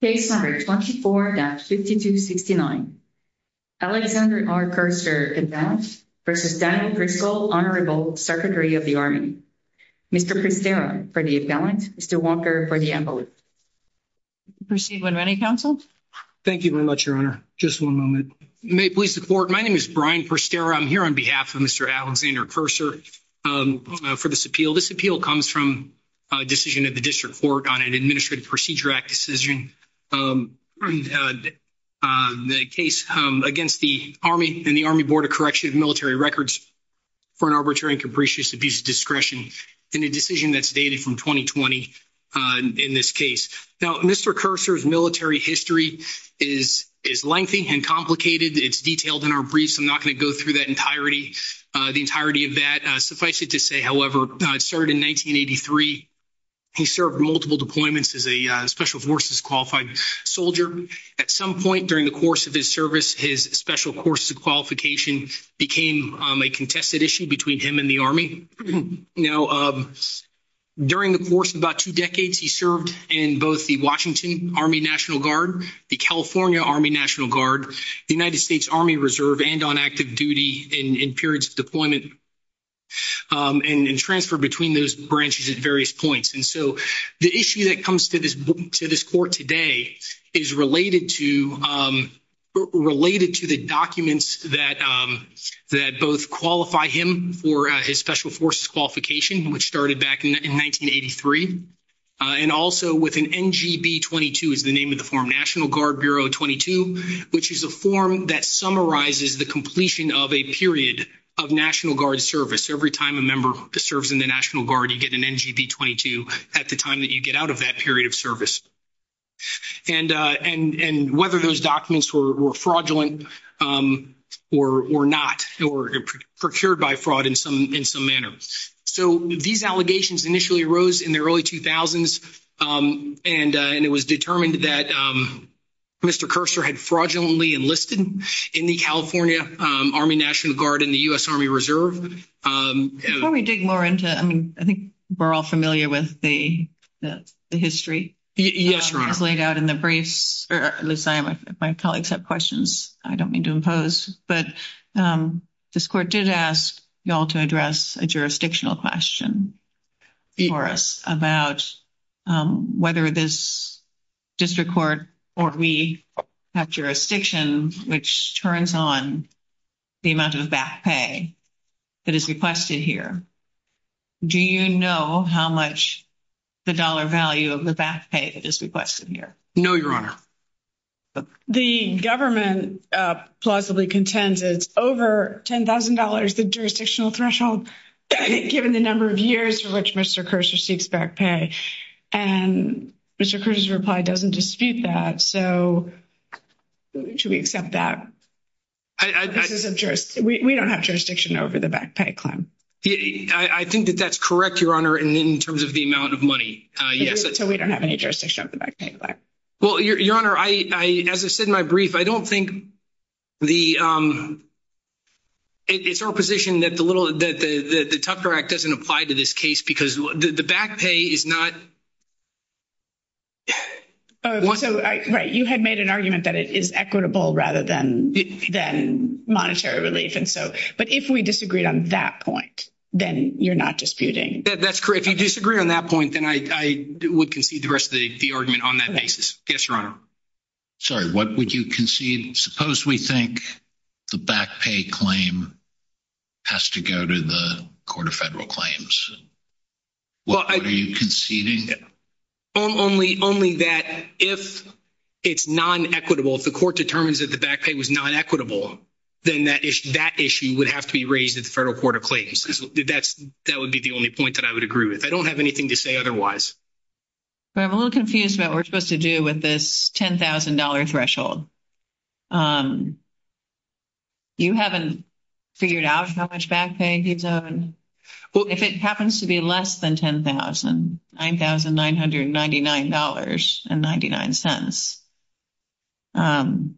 Case number 24-5269. Alexander R. Kursar, Appellant, v. Daniel Driscoll, Honorable Secretary of the Army. Mr. Pristera, for the Appellant. Mr. Walker, for the Envelope. Proceed when ready, Counsel. Thank you very much, Your Honor. Just one moment. May it please the Court, my name is Brian Pristera. I'm here on behalf of Mr. Alexander Kursar for this appeal. This appeal comes from a decision of the District Court on an Administrative Procedure Act decision. The case against the Army and the Army Board of Correction of Military Records for an arbitrary and capricious abuse of discretion in a decision that's dated from 2020 in this case. Now, Mr. Kursar's military history is lengthy and complicated. It's detailed in our brief, so I'm not going to go through the entirety of that. Suffice it to say, however, it started in 1983. He served multiple deployments as a Special Forces qualified soldier. At some point during the course of his service, his Special Forces qualification became a contested issue between him and the Army. Now, during the course of about two decades, he served in both the Washington Army National Guard, the California Army National Guard, the United States Army Reserve, and on active duty in periods of deployment and transfer between those branches at various points. And so the issue that comes to this court today is related to the documents that both qualify him for his Special Forces qualification, which started back in 1983, and also with an NGB-22 is the name of the form, National Guard Bureau 22, which is a form that summarizes the completion of a period of National Guard service. Every time a member serves in the National Guard, you get an NGB-22 at the time that you get out of that period of service. And whether those documents were fraudulent or not, or procured by fraud in some manner. So these allegations initially arose in the early 2000s, and it was determined that Mr. Kerser had fraudulently enlisted in the California Army National Guard and the U.S. Army Reserve. Before we dig more into it, I mean, I think we're all familiar with the history. Yes, Your Honor. It's laid out in the briefs. My colleagues have questions I don't mean to impose. But this court did ask you all to address a jurisdictional question for us about whether this district court or we have jurisdiction, which turns on the amount of back pay that is requested here. Do you know how much the dollar value of the back pay that is requested here? No, Your Honor. The government plausibly contends it's over $10,000, the jurisdictional threshold, given the number of years for which Mr. Kerser seeks back pay. And Mr. Kerser's reply doesn't dispute that. So should we accept that? We don't have jurisdiction over the back pay claim. I think that that's correct, Your Honor, in terms of the amount of money. Yes, so we don't have any jurisdiction over the back pay claim. Well, Your Honor, as I said in my brief, I don't think the – it's our position that the Tufter Act doesn't apply to this case because the back pay is not – Right, you had made an argument that it is equitable rather than monetary relief. But if we disagreed on that point, then you're not disputing. That's correct. If you disagree on that point, then I would concede the rest of the argument on that basis. Yes, Your Honor. Sorry, what would you concede? Suppose we think the back pay claim has to go to the Court of Federal Claims. What are you conceding? Only that if it's non-equitable, if the court determines that the back pay was non-equitable, then that issue would have to be raised at the Federal Court of Claims. That would be the only point that I would agree with. I don't have anything to say otherwise. I'm a little confused about what we're supposed to do with this $10,000 threshold. You haven't figured out how much back pay he's owed? If it happens to be less than $10,000, $9,999.99,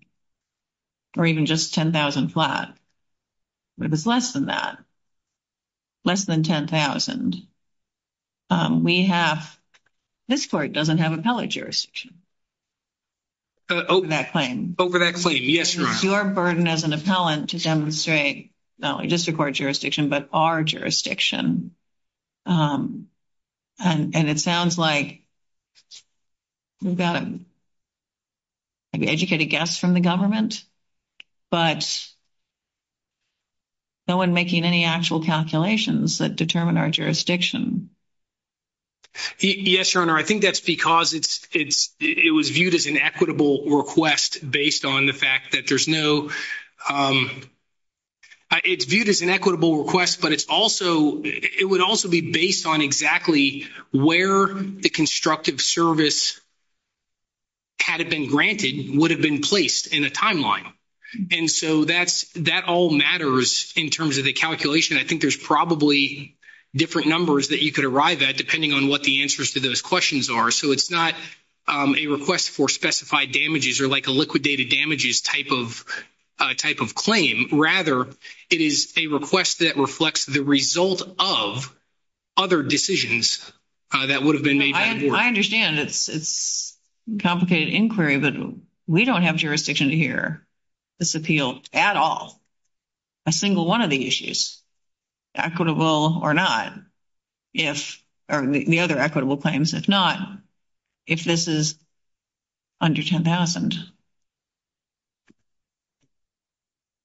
or even just $10,000 flat, but if it's less than that, less than $10,000, we have – this court doesn't have appellate jurisdiction over that claim. Over that claim, yes, Your Honor. It's your burden as an appellant to demonstrate not only district court jurisdiction, but our jurisdiction. And it sounds like we've got educated guests from the government, but no one making any actual calculations that determine our jurisdiction. Yes, Your Honor. I think that's because it was viewed as an equitable request based on the fact that there's no – it's viewed as an equitable request, but it's also – it would also be based on exactly where the constructive service, had it been granted, would have been placed in a timeline. And so that all matters in terms of the calculation. I think there's probably different numbers that you could arrive at depending on what the answers to those questions are. So it's not a request for specified damages or like a liquidated damages type of claim. Rather, it is a request that reflects the result of other decisions that would have been made by the board. I understand it's complicated inquiry, but we don't have jurisdiction to hear this appeal at all. A single one of the issues, equitable or not, if – or the other equitable claims, if not, if this is under $10,000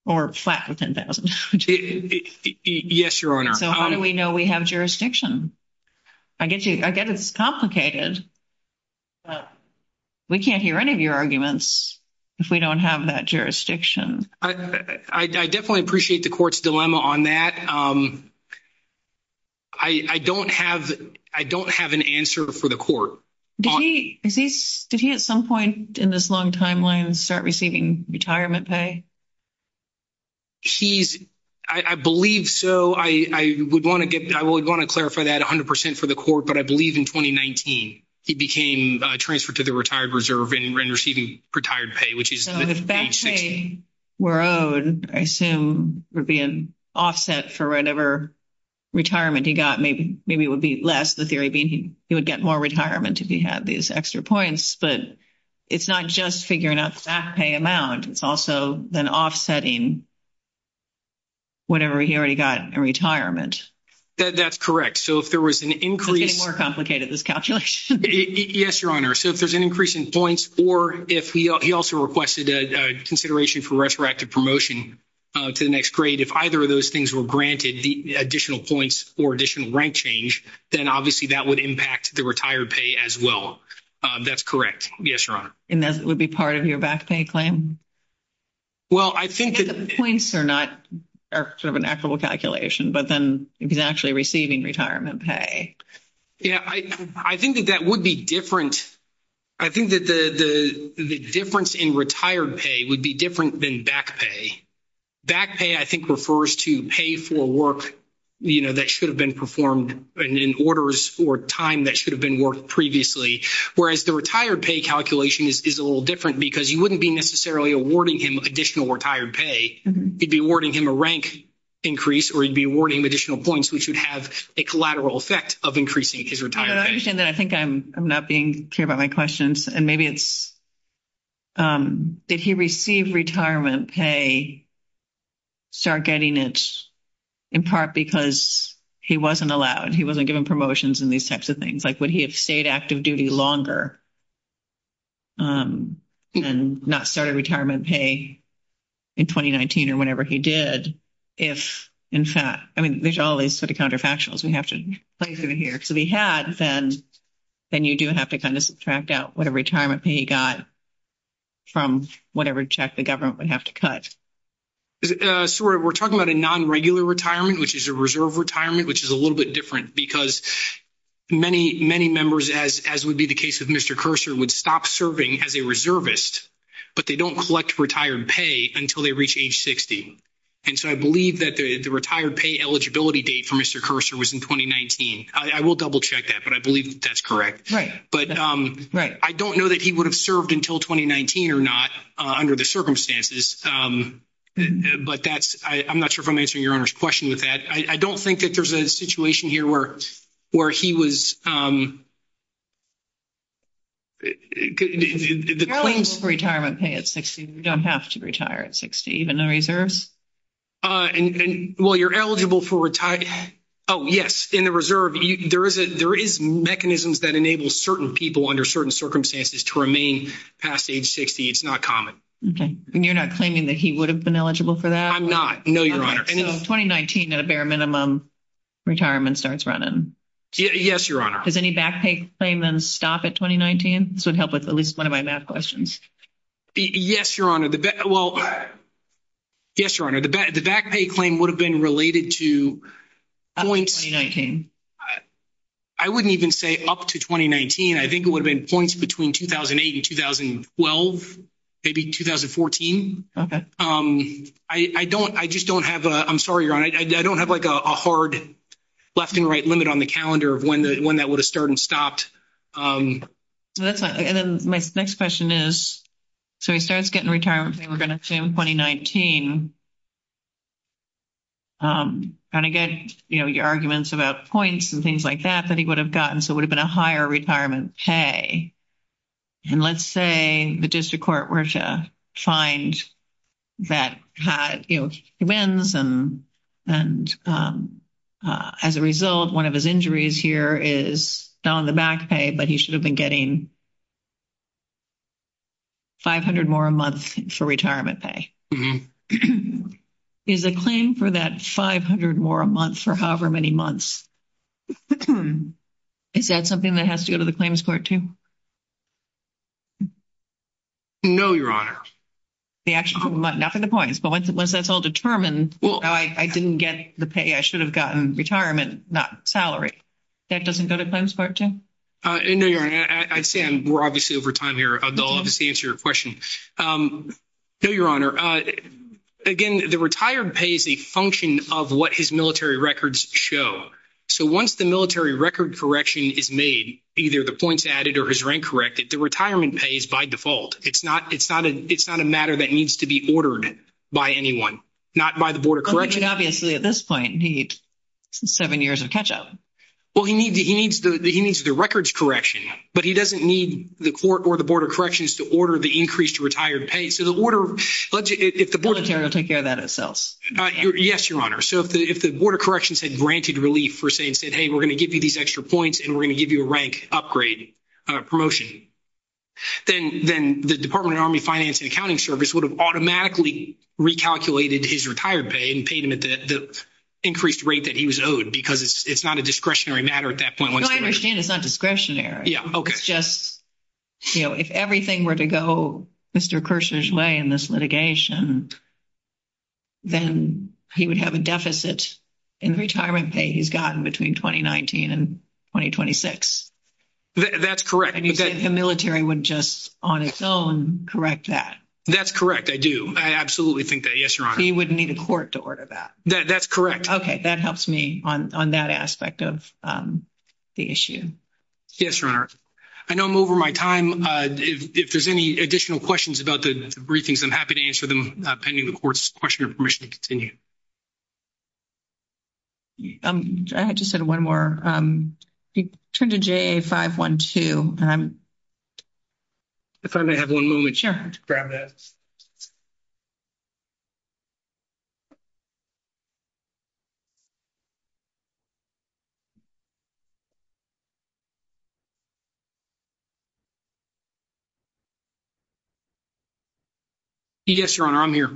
or flat with $10,000. Yes, Your Honor. So how do we know we have jurisdiction? I get it's complicated, but we can't hear any of your arguments if we don't have that jurisdiction. I definitely appreciate the court's dilemma on that. I don't have an answer for the court. Did he at some point in this long timeline start receiving retirement pay? He's – I believe so. I would want to get – I would want to clarify that 100 percent for the court, but I believe in 2019 he became transferred to the retired reserve and receiving retired pay, which is the age 60. So if back pay were owed, I assume it would be an offset for whatever retirement he got. Maybe it would be less, the theory being he would get more retirement if he had these extra points. But it's not just figuring out the back pay amount. It's also then offsetting whatever he already got in retirement. That's correct. So if there was an increase – It's getting more complicated, this calculation. Yes, Your Honor. So if there's an increase in points or if he also requested a consideration for resurrected promotion to the next grade, if either of those things were granted, the additional points or additional rank change, then obviously that would impact the retired pay as well. That's correct. Yes, Your Honor. And that would be part of your back pay claim? Well, I think that – I think the points are not – are sort of an equitable calculation, but then if he's actually receiving retirement pay. Yeah, I think that that would be different. I think that the difference in retired pay would be different than back pay. Back pay, I think, refers to pay for work that should have been performed in orders or time that should have been worked previously, whereas the retired pay calculation is a little different because you wouldn't be necessarily awarding him additional retired pay. You'd be awarding him a rank increase or you'd be awarding him additional points, which would have a collateral effect of increasing his retired pay. I understand that. I think I'm not being clear about my questions, and maybe it's – did he receive retirement pay, start getting it in part because he wasn't allowed, he wasn't given promotions and these types of things? Like, would he have stayed active duty longer and not started retirement pay in 2019 or whenever he did if, in fact – I mean, there's all these sort of counterfactuals we have to play through here. Because if he had, then you do have to kind of subtract out whatever retirement pay he got from whatever check the government would have to cut. So we're talking about a non-regular retirement, which is a reserve retirement, which is a little bit different because many, many members, as would be the case with Mr. Kerser, would stop serving as a reservist, but they don't collect retired pay until they reach age 60. And so I believe that the retired pay eligibility date for Mr. Kerser was in 2019. I will double-check that, but I believe that that's correct. Right. But I don't know that he would have served until 2019 or not under the circumstances, but that's – I'm not sure if I'm answering Your Honor's question with that. I don't think that there's a situation here where he was – the claims – You're eligible for retirement pay at 60. You don't have to retire at 60, even in reserves. Well, you're eligible for – oh, yes. In the reserve, there is mechanisms that enable certain people under certain circumstances to remain past age 60. It's not common. Okay. And you're not claiming that he would have been eligible for that? I'm not. No, Your Honor. So 2019 at a bare minimum, retirement starts running. Yes, Your Honor. Does any back pay claim then stop at 2019? This would help with at least one of my math questions. Yes, Your Honor. Well – yes, Your Honor. The back pay claim would have been related to points – I wouldn't even say up to 2019. I think it would have been points between 2008 and 2012, maybe 2014. Okay. I don't – I just don't have a – I'm sorry, Your Honor. I don't have, like, a hard left and right limit on the calendar of when that would have started and stopped. That's fine. And then my next question is, so he starts getting retirement pay, we're going to assume 2019. And again, you know, your arguments about points and things like that that he would have gotten, so it would have been a higher retirement pay. And let's say the district court were to find that, you know, he wins and as a result, one of his injuries here is not on the back pay, but he should have been getting 500 more a month for retirement pay. Is a claim for that 500 more a month for however many months, is that something that has to go to the claims court too? No, Your Honor. They actually – not for the points, but once that's all determined, I didn't get the pay I should have gotten in retirement, not salary. That doesn't go to claims court too? No, Your Honor. I'd say – and we're obviously over time here. They'll obviously answer your question. No, Your Honor. Again, the retired pay is a function of what his military records show. So once the military record correction is made, either the points added or his rank corrected, the retirement pay is by default. It's not a matter that needs to be ordered by anyone, not by the Board of Corrections. Obviously, at this point, he needs seven years of catch-up. Well, he needs the records correction, but he doesn't need the court or the Board of Corrections to order the increased retired pay. So the order – The military will take care of that itself. Yes, Your Honor. So if the Board of Corrections had granted relief, say, and said, hey, we're going to give you these extra points and we're going to give you a rank upgrade promotion, then the Department of Army Finance and Accounting Service would have automatically recalculated his retired pay and paid him at the increased rate that he was owed because it's not a discretionary matter at that point. No, I understand it's not discretionary. It's just, you know, if everything were to go Mr. Kershner's way in this litigation, then he would have a deficit in the retirement pay he's gotten between 2019 and 2026. That's correct. And you said the military would just on its own correct that. That's correct, I do. I absolutely think that. Yes, Your Honor. He would need a court to order that. That's correct. Okay, that helps me on that aspect of the issue. Yes, Your Honor. I know I'm over my time. If there's any additional questions about the briefings, I'm happy to answer them pending the court's question or permission to continue. I just had one more. Turn to JA 512. If I may have one moment to grab that. Yes, Your Honor, I'm here.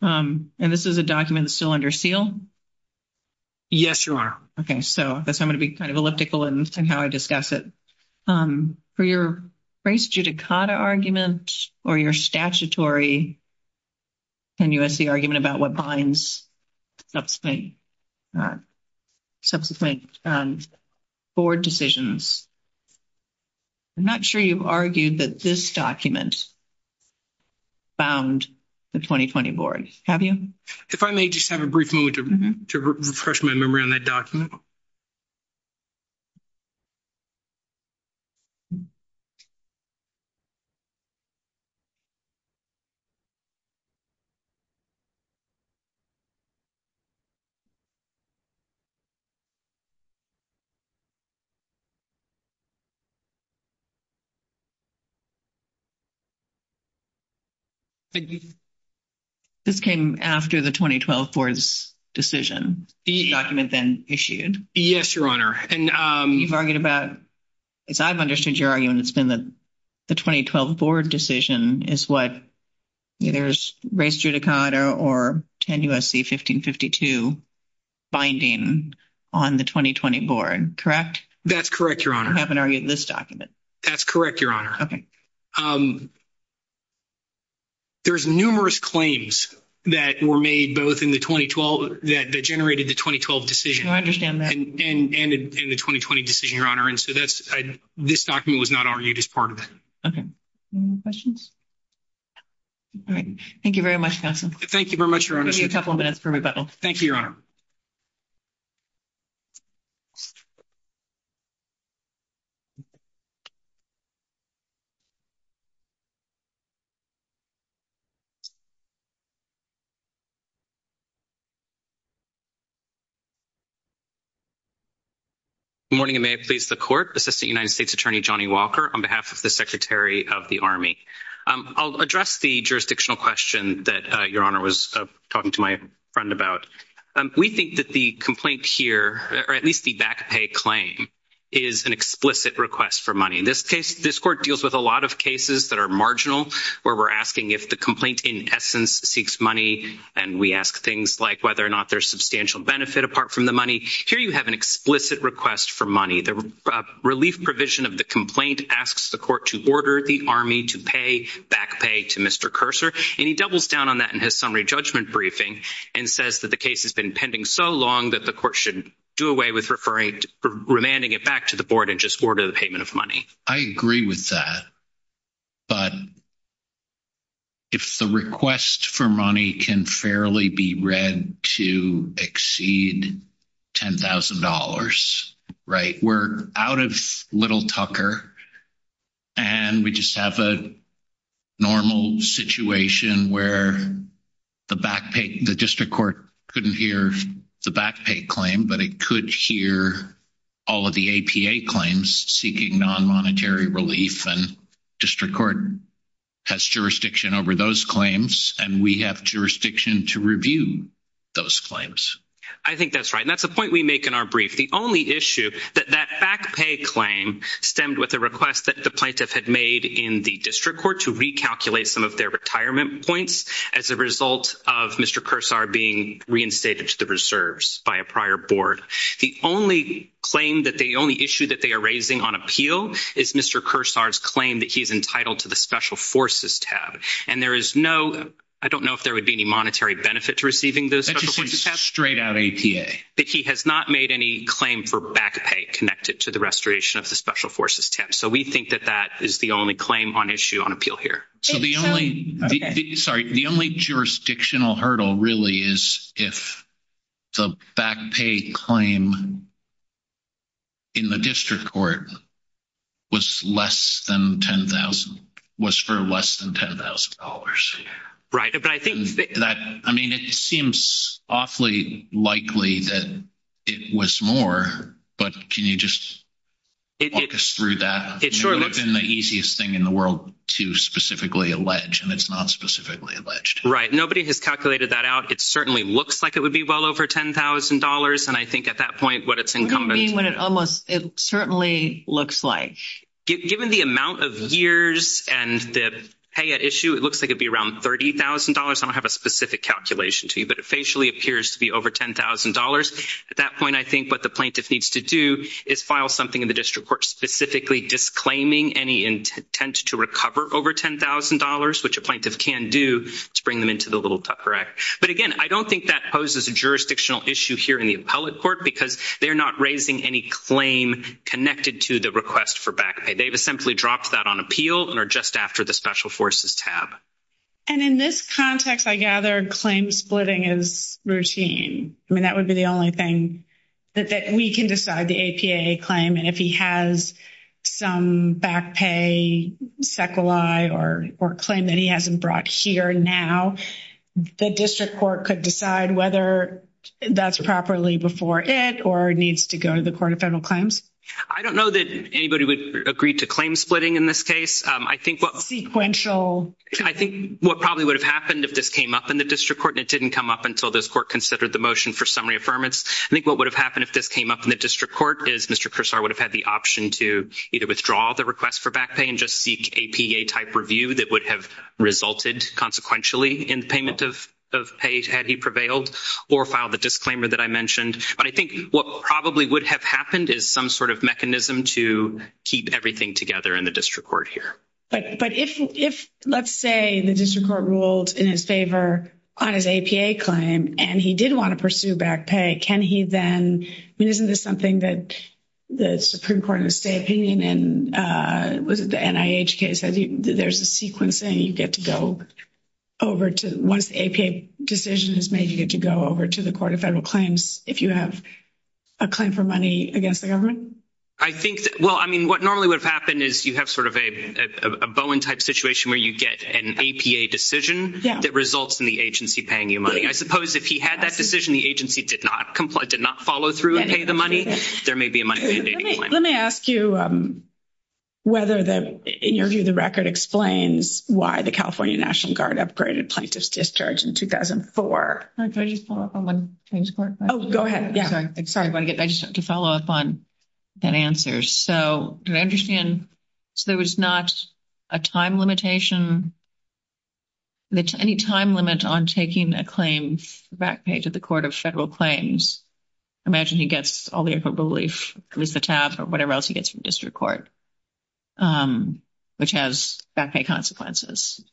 And this is a document that's still under seal? Yes, Your Honor. Okay, so I guess I'm going to be kind of elliptical in how I discuss it. For your race judicata argument or your statutory NUSC argument about what binds subsequent board decisions, I'm not sure you've argued that this document bound the 2020 board, have you? If I may just have a brief moment to refresh my memory on that document. This came after the 2012 board's decision? The document then issued? Yes, Your Honor. You've argued about, as I've understood your argument, it's been the 2012 board decision is what, either it's race judicata or 10 U.S.C. 1552 binding on the 2020 board, correct? That's correct, Your Honor. I haven't argued this document. That's correct, Your Honor. Okay. There's numerous claims that were made both in the 2012, that generated the 2012 decision. I understand that. And the 2020 decision, Your Honor. And so this document was not argued as part of it. Okay. All right. Thank you very much, counsel. Thank you very much, Your Honor. Give me a couple of minutes for rebuttal. Thank you, Your Honor. Good morning, and may it please the court. Assistant United States Attorney Johnny Walker on behalf of the Secretary of the Army. I'll address the jurisdictional question that Your Honor was talking to my friend about. We think that the complaint here, or at least the back pay claim, is an explicit request for money. This court deals with a lot of cases that are marginal where we're asking if the complaint in essence seeks money, and we ask things like whether or not there's substantial benefit apart from the money. Here you have an explicit request for money. The relief provision of the complaint asks the court to order the Army to pay back pay to Mr. Kerser, and he doubles down on that in his summary judgment briefing and says that the case has been pending so long that the court should do away with remanding it back to the board and just order the payment of money. I agree with that, but if the request for money can fairly be read to exceed $10,000, right, we're out of little Tucker, and we just have a normal situation where the back pay, the district court couldn't hear the back pay claim, but it could hear all of the APA claims seeking non-monetary relief, and district court has jurisdiction over those claims, and we have jurisdiction to review those claims. I think that's right, and that's a point we make in our brief. The only issue that that back pay claim stemmed with a request that the plaintiff had made in the district court to recalculate some of their retirement points as a result of Mr. Kerser being reinstated to the reserves by a prior board, the only claim that the only issue that they are raising on appeal is Mr. Kerser's claim that he's entitled to the special forces tab, and there is no, I don't know if there would be any monetary benefit to receiving the special forces tab. That's just a straight out APA. That he has not made any claim for back pay connected to the restoration of the special forces tab, so we think that that is the only claim on issue on appeal here. So the only, sorry, the only jurisdictional hurdle really is if the back pay claim in the district court was less than $10,000, was for less than $10,000. Right. I mean, it seems awfully likely that it was more, but can you just walk us through that? It would have been the easiest thing in the world to specifically allege, and it's not specifically alleged. Nobody has calculated that out. It certainly looks like it would be well over $10,000, and I think at that point what it's incumbent. What do you mean when it almost, it certainly looks like? Given the amount of years and the pay at issue, it looks like it would be around $30,000. I don't have a specific calculation to you, but it facially appears to be over $10,000. At that point, I think what the plaintiff needs to do is file something in the district court specifically disclaiming any intent to recover over $10,000, which a plaintiff can do to bring them into the Little Tucker Act. But again, I don't think that poses a jurisdictional issue here in the appellate court because they're not raising any claim connected to the request for back pay. They've simply dropped that on appeal and are just after the special forces tab. And in this context, I gather claim splitting is routine. I mean, that would be the only thing that we can decide, the APAA claim, and if he has some back pay sequelae or claim that he hasn't brought here now, the district court could decide whether that's properly before it or needs to go to the Court of Federal Claims. I don't know that anybody would agree to claim splitting in this case. Sequential. I think what probably would have happened if this came up in the district court and it didn't come up until this court considered the motion for summary affirmance, I think what would have happened if this came up in the district court is Mr. Kersar would have had the option to either withdraw the request for back pay and just seek APA-type review that would have resulted consequentially in payment of pay had he prevailed or filed the disclaimer that I mentioned. But I think what probably would have happened is some sort of mechanism to keep everything together in the district court here. But if, let's say, the district court ruled in his favor on his APA claim and he did want to pursue back pay, can he then – I mean, isn't this something that the Supreme Court in the state opinion and was it the NIH case, there's a sequence saying you get to go over to – once the APA decision is made, you get to go over to the Court of Federal Claims if you have a claim for money against the government? Well, I mean, what normally would have happened is you have sort of a Bowen-type situation where you get an APA decision that results in the agency paying you money. I suppose if he had that decision, the agency did not follow through and pay the money, there may be a money-mandating claim. Let me ask you whether, in your view, the record explains why the California National Guard upgraded plaintiff's discharge in 2004. Can I just follow up on one point? Oh, go ahead. Sorry. I just wanted to follow up on that answer. So did I understand – so there was not a time limitation, any time limit on taking a claim for back pay to the Court of Federal Claims? I imagine he gets all the approval relief, at least the TAP or whatever else he gets from district court, which has back pay consequences.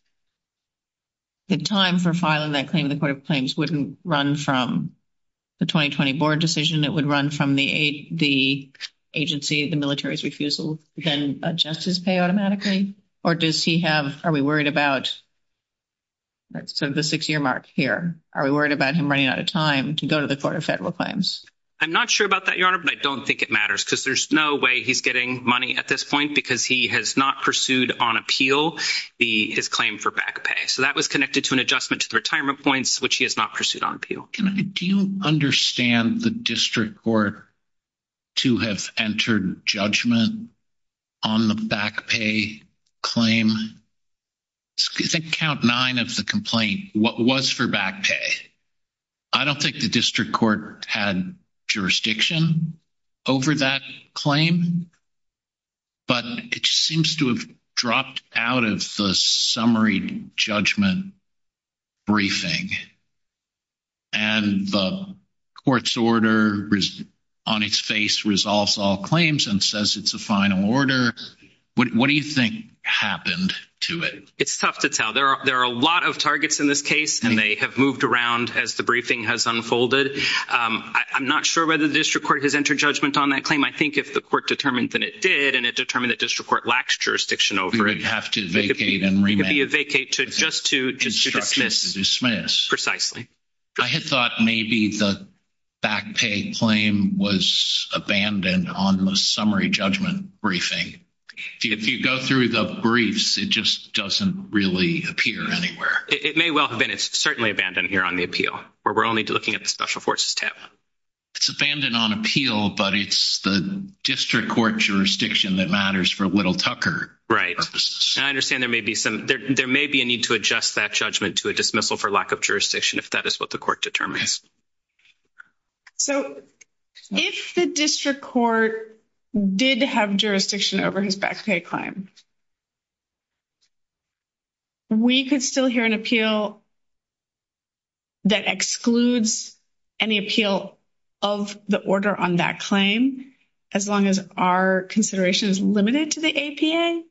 The time for filing that claim in the Court of Claims wouldn't run from the 2020 board decision. It would run from the agency, the military's refusal to then adjust his pay automatically? Or does he have – are we worried about sort of the six-year mark here? Are we worried about him running out of time to go to the Court of Federal Claims? I'm not sure about that, Your Honor, but I don't think it matters because there's no way he's getting money at this point because he has not pursued on appeal his claim for back pay. So that was connected to an adjustment to the retirement points, which he has not pursued on appeal. Do you understand the district court to have entered judgment on the back pay claim? I think count nine of the complaint, what was for back pay. I don't think the district court had jurisdiction over that claim, but it seems to have dropped out of the summary judgment briefing, and the court's order on its face resolves all claims and says it's a final order. What do you think happened to it? It's tough to tell. There are a lot of targets in this case, and they have moved around as the briefing has unfolded. I'm not sure whether the district court has entered judgment on that claim. I think if the court determined that it did, and it determined that district court lacks jurisdiction over it, it would be a vacate just to dismiss precisely. I had thought maybe the back pay claim was abandoned on the summary judgment briefing. If you go through the briefs, it just doesn't really appear anywhere. It may well have been. It's certainly abandoned here on the appeal, where we're only looking at the Special Forces tab. It's abandoned on appeal, but it's the district court jurisdiction that matters for Whittle-Tucker purposes. I understand there may be a need to adjust that judgment to a dismissal for lack of jurisdiction, if that is what the court determines. So if the district court did have jurisdiction over his back pay claim, we could still hear an appeal that excludes any appeal of the order on that claim, as long as our consideration is limited to the APA?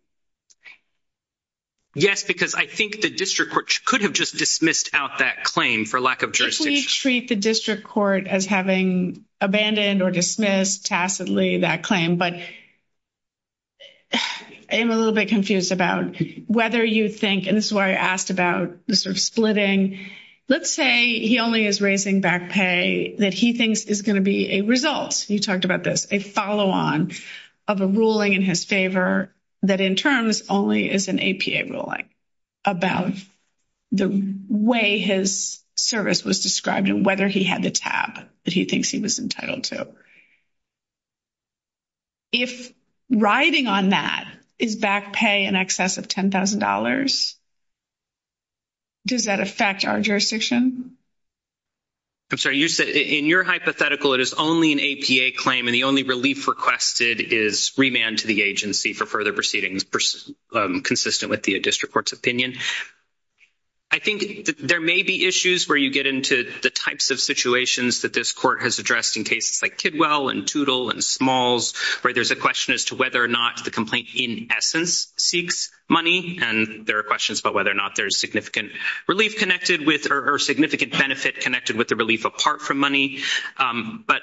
Yes, because I think the district court could have just dismissed out that claim for lack of jurisdiction. If we treat the district court as having abandoned or dismissed tacitly that claim, but I'm a little bit confused about whether you think, and this is why I asked about the sort of splitting. Let's say he only is raising back pay that he thinks is going to be a result. You talked about this, a follow-on of a ruling in his favor, that in terms only is an APA ruling about the way his service was described and whether he had the tab that he thinks he was entitled to. If riding on that is back pay in excess of $10,000, does that affect our jurisdiction? I'm sorry, you said in your hypothetical it is only an APA claim, and the only relief requested is remand to the agency for further proceedings, consistent with the district court's opinion. I think there may be issues where you get into the types of situations that this court has addressed in cases like Kidwell and Toutle and Smalls, where there's a question as to whether or not the complaint in essence seeks money, and there are questions about whether or not there's significant relief connected with or significant benefit connected with the relief apart from money. But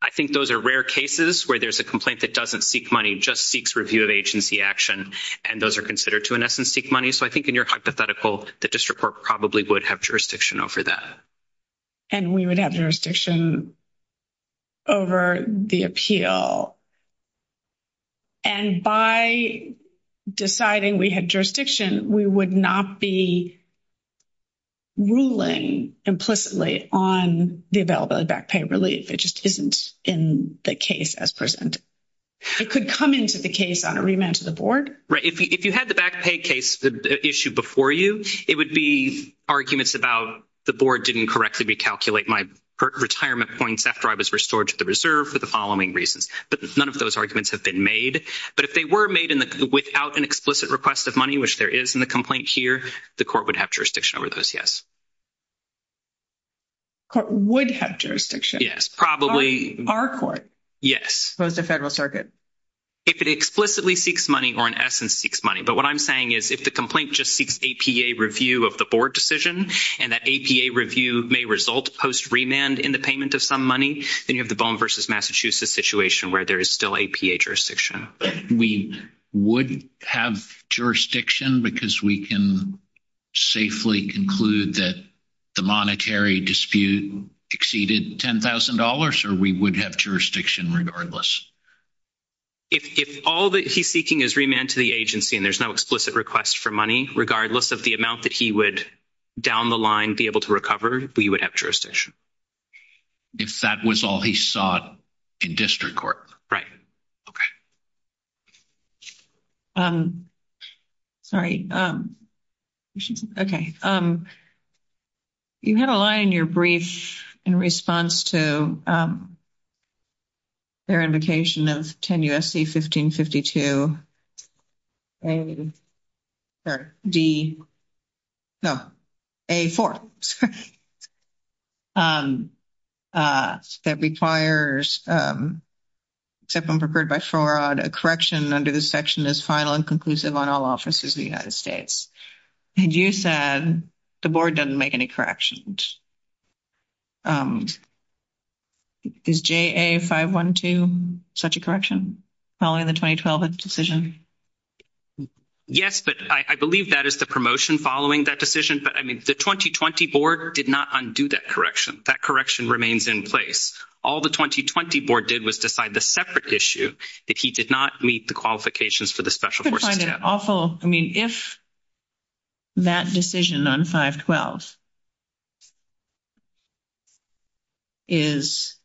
I think those are rare cases where there's a complaint that doesn't seek money, just seeks review of agency action, and those are considered to in essence seek money. So I think in your hypothetical, the district court probably would have jurisdiction over that. And we would have jurisdiction over the appeal. And by deciding we had jurisdiction, we would not be ruling implicitly on the availability of back pay relief. It just isn't in the case as presented. It could come into the case on a remand to the board. If you had the back pay case issue before you, it would be arguments about the board didn't correctly recalculate my retirement points after I was restored to the reserve for the following reasons. But none of those arguments have been made. But if they were made without an explicit request of money, which there is in the complaint here, the court would have jurisdiction over those, yes. Court would have jurisdiction. Yes, probably. By our court. Yes. Opposed to Federal Circuit. If it explicitly seeks money or in essence seeks money. But what I'm saying is if the complaint just seeks APA review of the board decision and that APA review may result post remand in the payment of some money, then you have the Bowman v. Massachusetts situation where there is still APA jurisdiction. We would have jurisdiction because we can safely conclude that the monetary dispute exceeded $10,000 or we would have jurisdiction regardless. If all that he's seeking is remand to the agency and there's no explicit request for money, regardless of the amount that he would down the line be able to recover, we would have jurisdiction. If that was all he sought in district court. Right. Okay. Sorry. Okay. You had a line in your brief in response to their invocation of 10 U.S.C. 1552. Sorry. D. No. A4. That requires, except when preferred by fraud, a correction under this section is final and conclusive on all offices in the United States. And you said the board doesn't make any corrections. Is JA 512 such a correction following the 2012 decision? Yes, but I believe that is the promotion following that decision. But, I mean, the 2020 board did not undo that correction. That correction remains in place. All the 2020 board did was decide the separate issue that he did not meet the qualifications for the special forces. I find it awful. I mean, if that decision on 512 is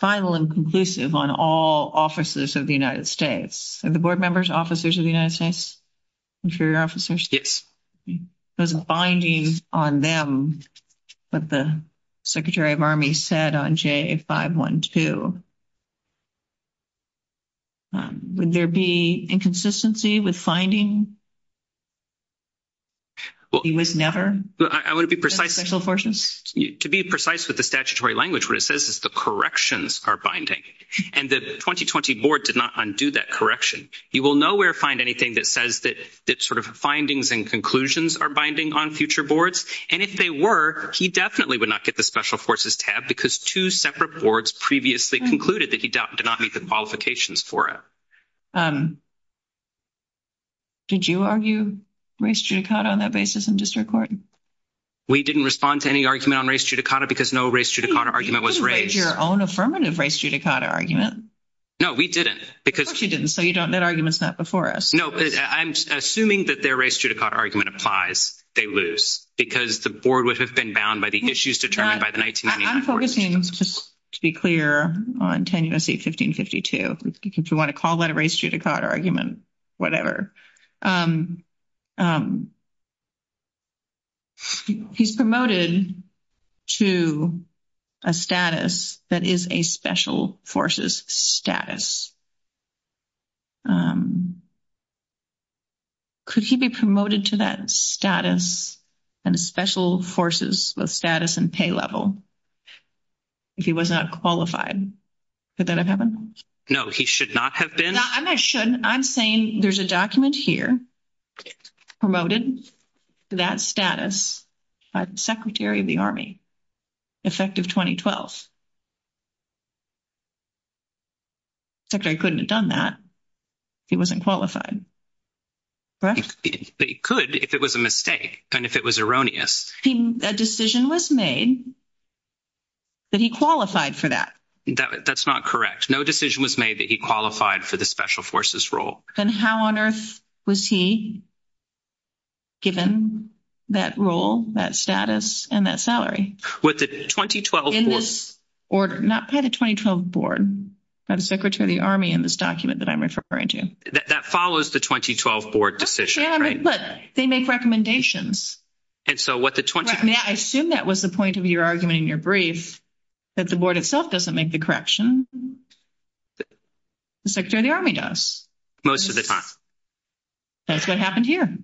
final and conclusive on all offices of the United States, are the board members officers of the United States? Interior officers? Yes. There's a binding on them, what the Secretary of Army said on JA 512. Would there be inconsistency with finding he was never? I want to be precise. Special forces? To be precise with the statutory language, what it says is the corrections are binding. And the 2020 board did not undo that correction. You will nowhere find anything that says that sort of findings and conclusions are binding on future boards. And if they were, he definitely would not get the special forces tab because two separate boards previously concluded that he did not meet the qualifications for it. Did you argue race judicata on that basis in district court? We didn't respond to any argument on race judicata because no race judicata argument was raised. You didn't raise your own affirmative race judicata argument. No, we didn't. Of course you didn't. So that argument's not before us. No, I'm assuming that their race judicata argument applies. They lose because the board would have been bound by the issues determined by the 1990 board. I'm focusing, just to be clear, on 10 U.S.C. 1552. If you want to call that a race judicata argument, whatever. He's promoted to a status that is a special forces status. Could he be promoted to that status and special forces with status and pay level if he was not qualified? Could that have happened? No, he should not have been. I'm saying there's a document here promoted to that status by the Secretary of the Army, effective 2012. The Secretary couldn't have done that if he wasn't qualified. But he could if it was a mistake and if it was erroneous. A decision was made that he qualified for that. That's not correct. No decision was made that he qualified for the special forces role. Then how on earth was he given that role, that status, and that salary? With the 2012 board. In this order. Not by the 2012 board. By the Secretary of the Army in this document that I'm referring to. That follows the 2012 board decision, right? But they make recommendations. I assume that was the point of your argument in your brief. That the board itself doesn't make the correction. The Secretary of the Army does. Most of the time. That's what happened here.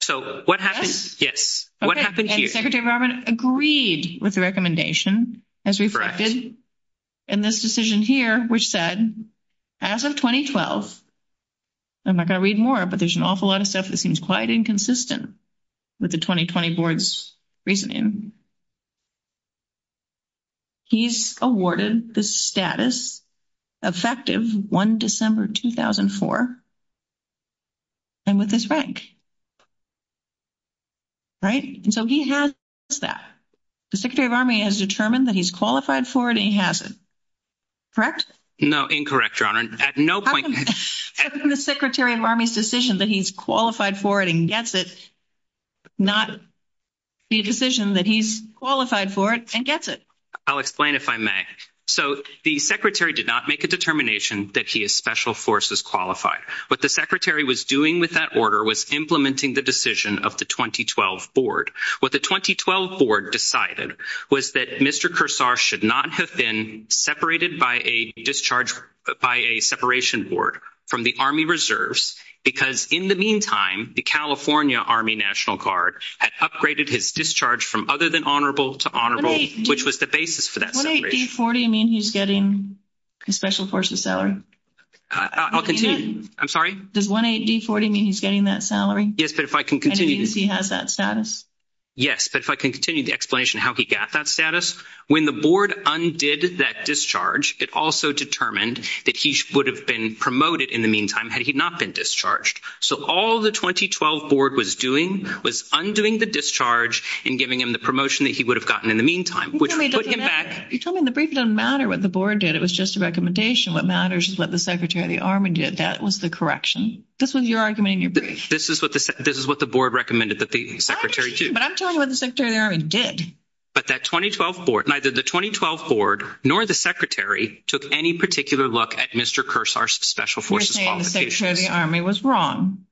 So what happened? Yes. What happened here? Secretary of the Army agreed with the recommendation as reflected in this decision here, which said, as of 2012, I'm not going to read more. But there's an awful lot of stuff that seems quite inconsistent with the 2020 board's reasoning. He's awarded the status effective 1 December 2004. And with this rank. Right? So he has that. The Secretary of the Army has determined that he's qualified for it and he hasn't. Correct? No, incorrect, Your Honor. The Secretary of the Army's decision that he's qualified for it and gets it. Not the decision that he's qualified for it and gets it. I'll explain if I may. So the Secretary did not make a determination that he is special forces qualified. What the Secretary was doing with that order was implementing the decision of the 2012 board. What the 2012 board decided was that Mr. Kursar should not have been separated by a separation board from the Army Reserves. Because in the meantime, the California Army National Guard had upgraded his discharge from other than honorable to honorable, which was the basis for that separation. Does 18040 mean he's getting a special forces salary? I'll continue. I'm sorry? Does 18040 mean he's getting that salary? Yes, but if I can continue. Does 18040 mean he has that status? Yes, but if I can continue the explanation of how he got that status. When the board undid that discharge, it also determined that he would have been promoted in the meantime had he not been discharged. So all the 2012 board was doing was undoing the discharge and giving him the promotion that he would have gotten in the meantime, which put him back. You told me in the brief it doesn't matter what the board did. It was just a recommendation. What matters is what the Secretary of the Army did. That was the correction. This was your argument in your brief. This is what the board recommended that the Secretary do. But I'm telling you what the Secretary of the Army did. But that 2012 board, neither the 2012 board nor the Secretary took any particular look at Mr. Kursar's special forces qualifications. You're saying the Secretary of the Army was wrong?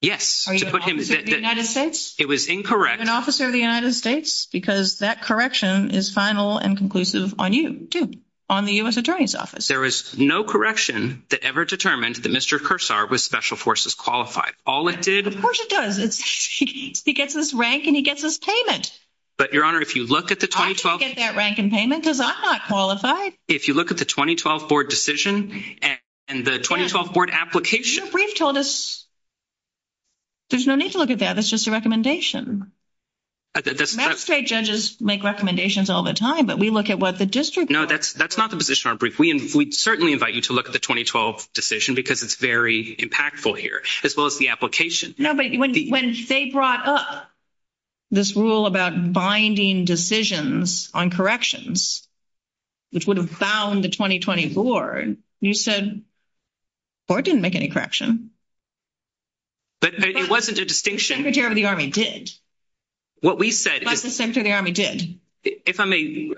Yes. Are you an officer of the United States? It was incorrect. Are you an officer of the United States? Because that correction is final and conclusive on you, too, on the U.S. Attorney's Office. There was no correction that ever determined that Mr. Kursar was special forces qualified. All it did— Of course it does. He gets his rank and he gets his payment. But, Your Honor, if you look at the 2012— I didn't get that rank and payment because I'm not qualified. If you look at the 2012 board decision and the 2012 board application— Your brief told us there's no need to look at that. That's just a recommendation. The magistrate judges make recommendations all the time, but we look at what the district— No, that's not the position of our brief. We certainly invite you to look at the 2012 decision because it's very impactful here, as well as the application. No, but when they brought up this rule about binding decisions on corrections, which would have bound the 2020 board, you said the board didn't make any correction. But it wasn't a distinction. The Secretary of the Army did. What we said is— But the Secretary of the Army did. If I may,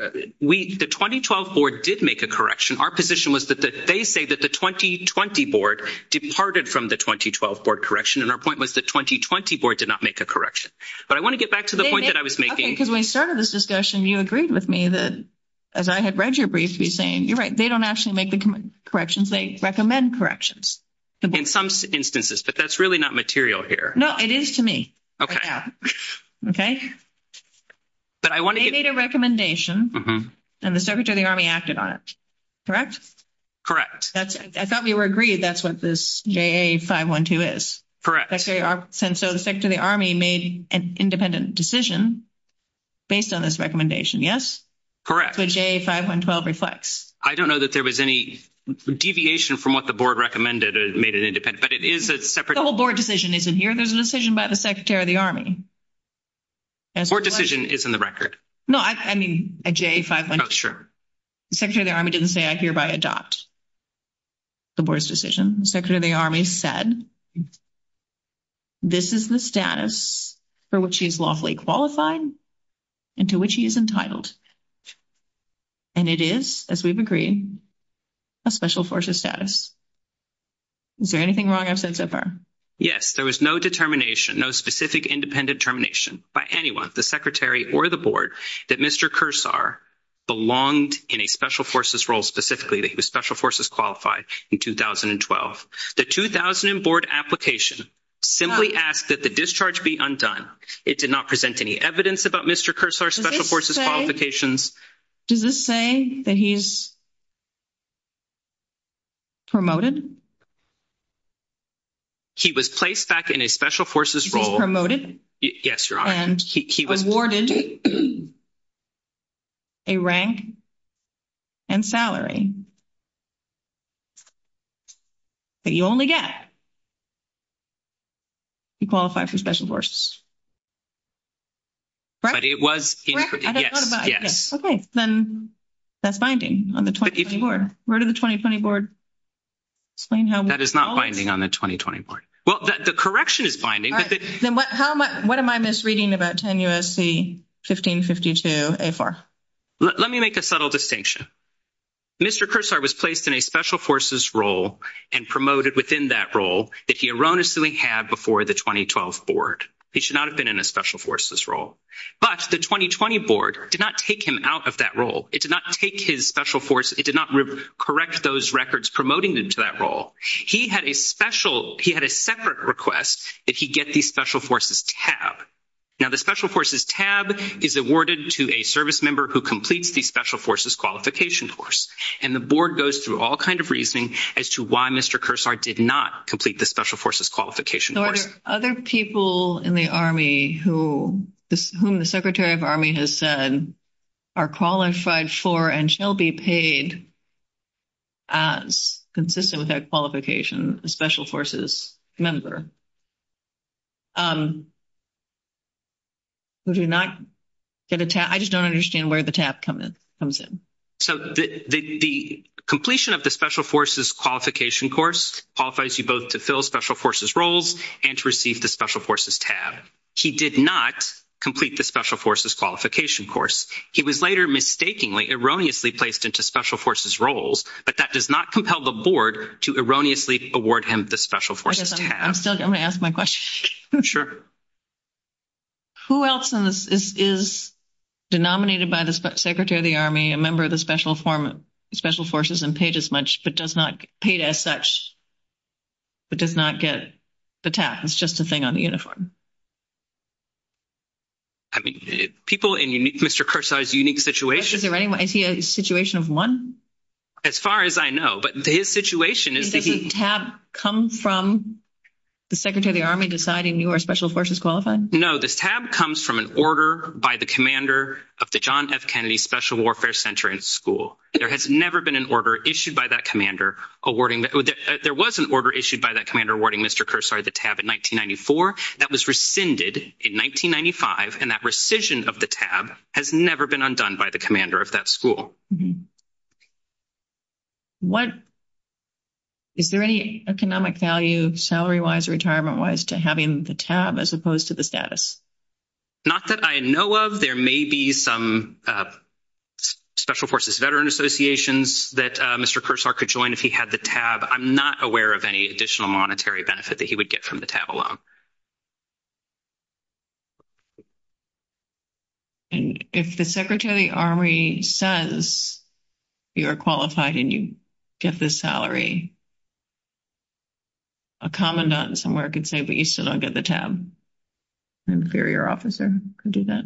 the 2012 board did make a correction. Our position was that they say that the 2020 board departed from the 2012 board correction, and our point was the 2020 board did not make a correction. But I want to get back to the point that I was making— Okay, because when we started this discussion, you agreed with me that, as I had read your brief, you were saying, you're right, they don't actually make the corrections. They recommend corrections. In some instances, but that's really not material here. No, it is to me right now. Okay? But I want to get— They made a recommendation, and the Secretary of the Army acted on it, correct? Correct. I thought we were agreed that's what this JA-512 is. Correct. So the Secretary of the Army made an independent decision based on this recommendation, yes? Correct. That's what JA-512 reflects. I don't know that there was any deviation from what the board recommended or made it independent, but it is a separate— The whole board decision isn't here. There's a decision by the Secretary of the Army. Board decision is in the record. No, I mean a JA-512. Oh, sure. The Secretary of the Army didn't say, I hereby adopt the board's decision. The Secretary of the Army said, this is the status for which he is lawfully qualified and to which he is entitled. And it is, as we've agreed, a special forces status. Is there anything wrong I've said so far? Yes, there was no determination, no specific independent determination by anyone, the Secretary or the board, that Mr. Kursar belonged in a special forces role specifically that he was special forces qualified in 2012. The 2000 board application simply asked that the discharge be undone. It did not present any evidence about Mr. Kursar's special forces qualifications. Does this say that he's promoted? He was placed back in a special forces role— Yes, Your Honor. And he was awarded a rank and salary that you only get if you qualify for special forces. But it was— Yes, yes. Okay, then that's binding on the 2020 board. Where did the 2020 board explain how— That is not binding on the 2020 board. Well, the correction is binding. All right. Then what am I misreading about 10 U.S.C. 1552A4? Let me make a subtle distinction. Mr. Kursar was placed in a special forces role and promoted within that role that he erroneously had before the 2012 board. He should not have been in a special forces role. But the 2020 board did not take him out of that role. It did not take his special forces—it did not correct those records promoting him to that role. He had a special—he had a separate request that he get the special forces tab. Now, the special forces tab is awarded to a service member who completes the special forces qualification course. And the board goes through all kind of reasoning as to why Mr. Kursar did not complete the special forces qualification course. Are there other people in the Army who—whom the secretary of Army has said are qualified for and shall be paid as consistent with that qualification, a special forces member, who do not get a tab? I just don't understand where the tab comes in. So the completion of the special forces qualification course qualifies you both to fill special forces roles and to receive the special forces tab. He did not complete the special forces qualification course. He was later mistakenly, erroneously placed into special forces roles, but that does not compel the board to erroneously award him the special forces tab. I guess I'm still—I'm going to ask my question. Sure. Who else is denominated by the secretary of the Army, a member of the special form—special forces and paid as much, but does not—paid as such, but does not get the tab? It's just a thing on the uniform. I mean, people in unique—Mr. Kursar's unique situation— Is there anyone—is he a situation of one? As far as I know, but his situation is that he— Does the tab come from the secretary of the Army deciding you are special forces qualified? No, this tab comes from an order by the commander of the John F. Kennedy Special Warfare Center and School. There has never been an order issued by that commander awarding—there was an order issued by that commander awarding Mr. Kursar the tab in 1994. That was rescinded in 1995, and that rescission of the tab has never been undone by the commander of that school. What—is there any economic value, salary-wise, retirement-wise, to having the tab as opposed to the status? Not that I know of. There may be some special forces veteran associations that Mr. Kursar could join if he had the tab. I'm not aware of any additional monetary benefit that he would get from the tab alone. And if the secretary of the Army says you are qualified and you get this salary, a commandant somewhere could say, but you still don't get the tab. An inferior officer could do that.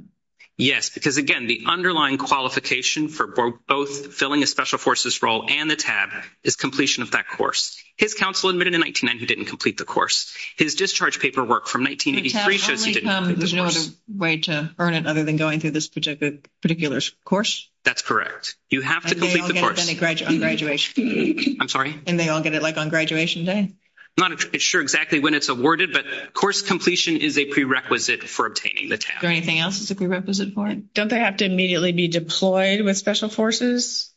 Yes, because, again, the underlying qualification for both filling a special forces role and the tab is completion of that course. His counsel admitted in 1999 he didn't complete the course. His discharge paperwork from 1983 shows he didn't complete the course. The tab only comes—there's no other way to earn it other than going through this particular course? That's correct. You have to complete the course. And they all get it on graduation? I'm sorry? And they all get it, like, on graduation day? I'm not sure exactly when it's awarded, but course completion is a prerequisite for obtaining the tab. Is there anything else that's a prerequisite for it? Don't they have to immediately be deployed with special forces?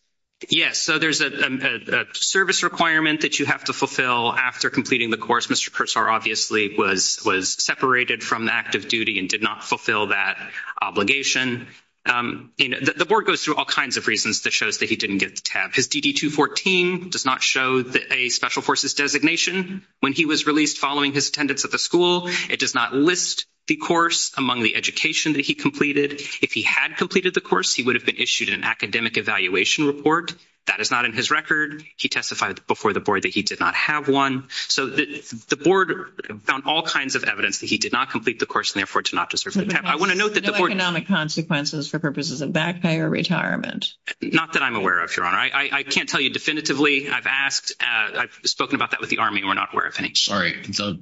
Yes, so there's a service requirement that you have to fulfill after completing the course. Mr. Kursar obviously was separated from the active duty and did not fulfill that obligation. The board goes through all kinds of reasons that shows that he didn't get the tab. His DD-214 does not show a special forces designation. When he was released following his attendance at the school, it does not list the course among the education that he completed. If he had completed the course, he would have been issued an academic evaluation report. That is not in his record. He testified before the board that he did not have one. So the board found all kinds of evidence that he did not complete the course and, therefore, did not deserve the tab. I want to note that the board— No economic consequences for purposes of back pay or retirement? Not that I'm aware of, Your Honor. I can't tell you definitively. I've asked—I've spoken about that with the Army, and we're not aware of any. Sorry. The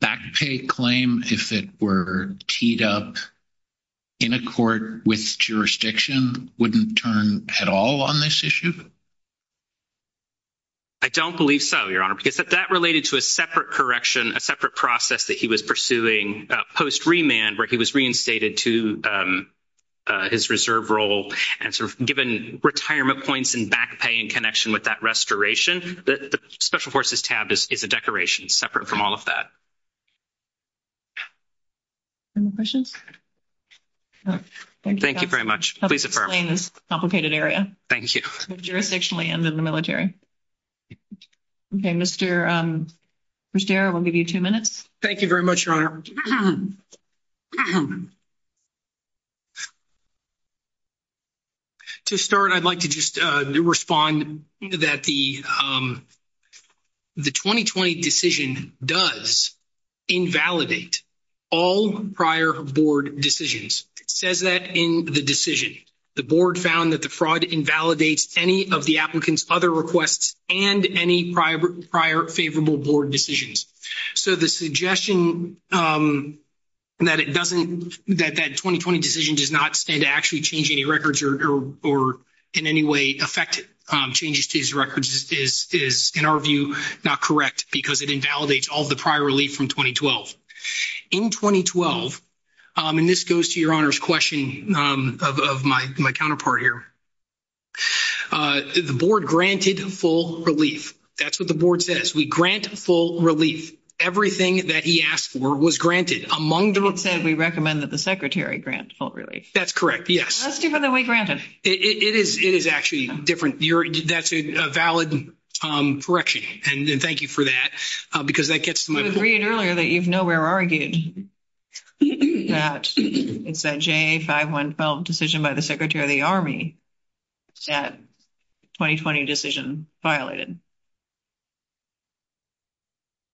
back pay claim, if it were teed up in a court with jurisdiction, wouldn't turn at all on this issue? I don't believe so, Your Honor, because that related to a separate correction, a separate process that he was pursuing post-remand, where he was reinstated to his reserve role and sort of given retirement points and back pay in connection with that restoration. The special forces tab is a declaration separate from all of that. Any more questions? Thank you very much. Please affirm. Complicated area. Thank you. Jurisdictionally and in the military. Okay. Mr. Bustere, we'll give you two minutes. Thank you very much, Your Honor. To start, I'd like to just respond that the 2020 decision does invalidate all prior board decisions. It says that in the decision. The board found that the fraud invalidates any of the applicant's other requests and any prior favorable board decisions. So the suggestion that that 2020 decision does not stand to actually change any records or in any way affect changes to his records is, in our view, not correct because it invalidates all of the prior relief from 2012. In 2012, and this goes to Your Honor's question of my counterpart here, the board granted full relief. That's what the board says. We grant full relief. Everything that he asked for was granted. It said we recommend that the secretary grant full relief. That's correct, yes. That's different than we granted. It is actually different. That's a valid correction, and thank you for that because that gets to my point. I read earlier that you've nowhere argued that it's a J512 decision by the Secretary of the Army that 2020 decision violated.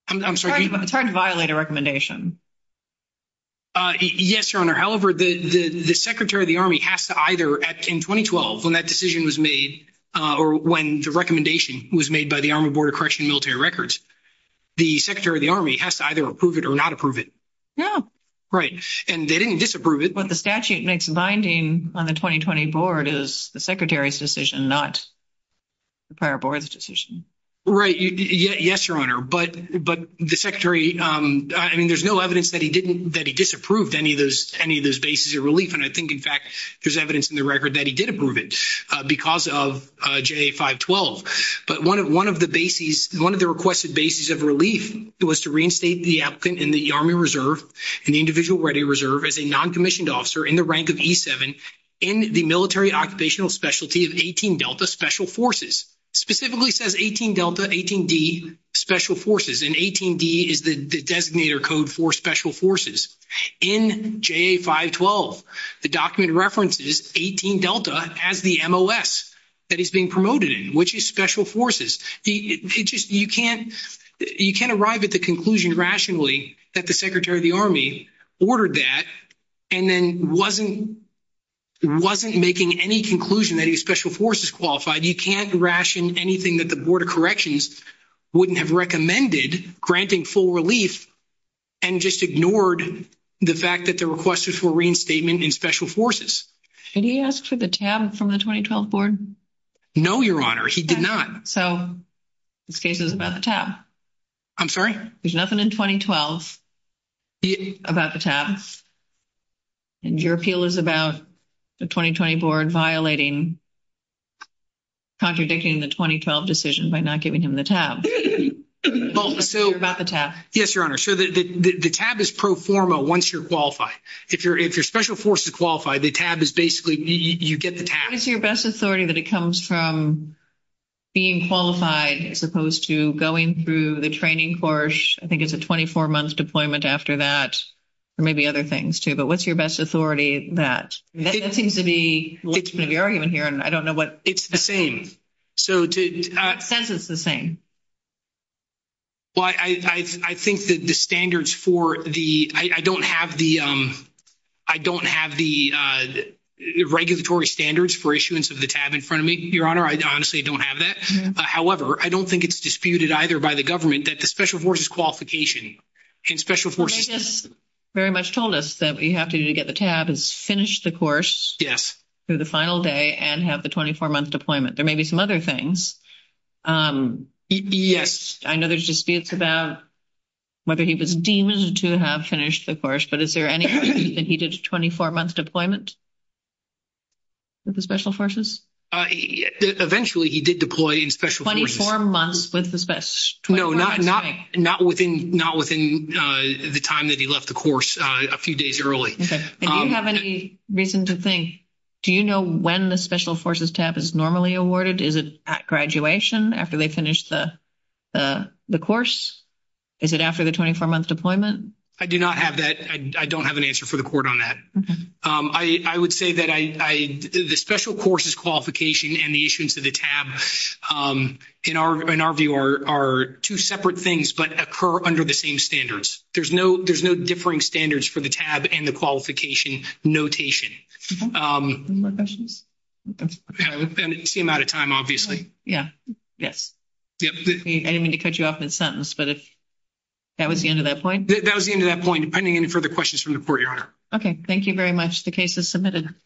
I'm sorry. It's hard to violate a recommendation. Yes, Your Honor. However, the Secretary of the Army has to either, in 2012, when that decision was made, or when the recommendation was made by the Army Board of Corrections and Military Records, the Secretary of the Army has to either approve it or not approve it. Yeah. Right, and they didn't disapprove it. What the statute makes binding on the 2020 board is the Secretary's decision, not the prior board's decision. Right. Yes, Your Honor, but the Secretary, I mean, there's no evidence that he disapproved any of those bases of relief, and I think, in fact, there's evidence in the record that he did approve it because of J512. But one of the bases, one of the requested bases of relief was to reinstate the applicant in the Army Reserve and the Individual Ready Reserve as a noncommissioned officer in the rank of E7 in the military occupational specialty of 18 Delta Special Forces. Specifically says 18 Delta, 18D Special Forces, and 18D is the designator code for Special Forces. In J512, the document references 18 Delta as the MOS that he's being promoted in, which is Special Forces. You can't arrive at the conclusion rationally that the Secretary of the Army ordered that and then wasn't making any conclusion that he was Special Forces qualified. You can't ration anything that the Board of Corrections wouldn't have recommended granting full relief and just ignored the fact that the request was for reinstatement in Special Forces. Did he ask for the tab from the 2012 board? No, Your Honor, he did not. So this case is about the tab. I'm sorry? There's nothing in 2012 about the tab, and your appeal is about the 2020 board violating, contradicting the 2012 decision by not giving him the tab. You're about the tab. Yes, Your Honor. So the tab is pro forma once you're qualified. If you're Special Forces qualified, the tab is basically you get the tab. What is your best authority that it comes from being qualified as opposed to going through the training course? I think it's a 24-month deployment after that or maybe other things, too. But what's your best authority that? That seems to be the argument here, and I don't know what— It's the same. So to— It says it's the same. Well, I think that the standards for the—I don't have the regulatory standards for issuance of the tab in front of me, Your Honor. I honestly don't have that. However, I don't think it's disputed either by the government that the Special Forces qualification in Special Forces— Well, they just very much told us that what you have to do to get the tab is finish the course through the final day and have the 24-month deployment. There may be some other things. I know there's disputes about whether he was deemed to have finished the course, but is there any way that he did a 24-month deployment with the Special Forces? Eventually, he did deploy in Special Forces. 24 months with the— No, not within the time that he left the course a few days early. Okay. Do you have any reason to think—do you know when the Special Forces tab is normally awarded? Is it at graduation, after they finish the course? Is it after the 24-month deployment? I do not have that. I don't have an answer for the court on that. I would say that the Special Forces qualification and the issuance of the tab, in our view, are two separate things but occur under the same standards. There's no differing standards for the tab and the qualification notation. Any more questions? We seem out of time, obviously. Yeah. Yes. I didn't mean to cut you off in a sentence, but if—that was the end of that point? That was the end of that point. Depending on any further questions from the court, Your Honor. Okay. Thank you very much. The case is submitted.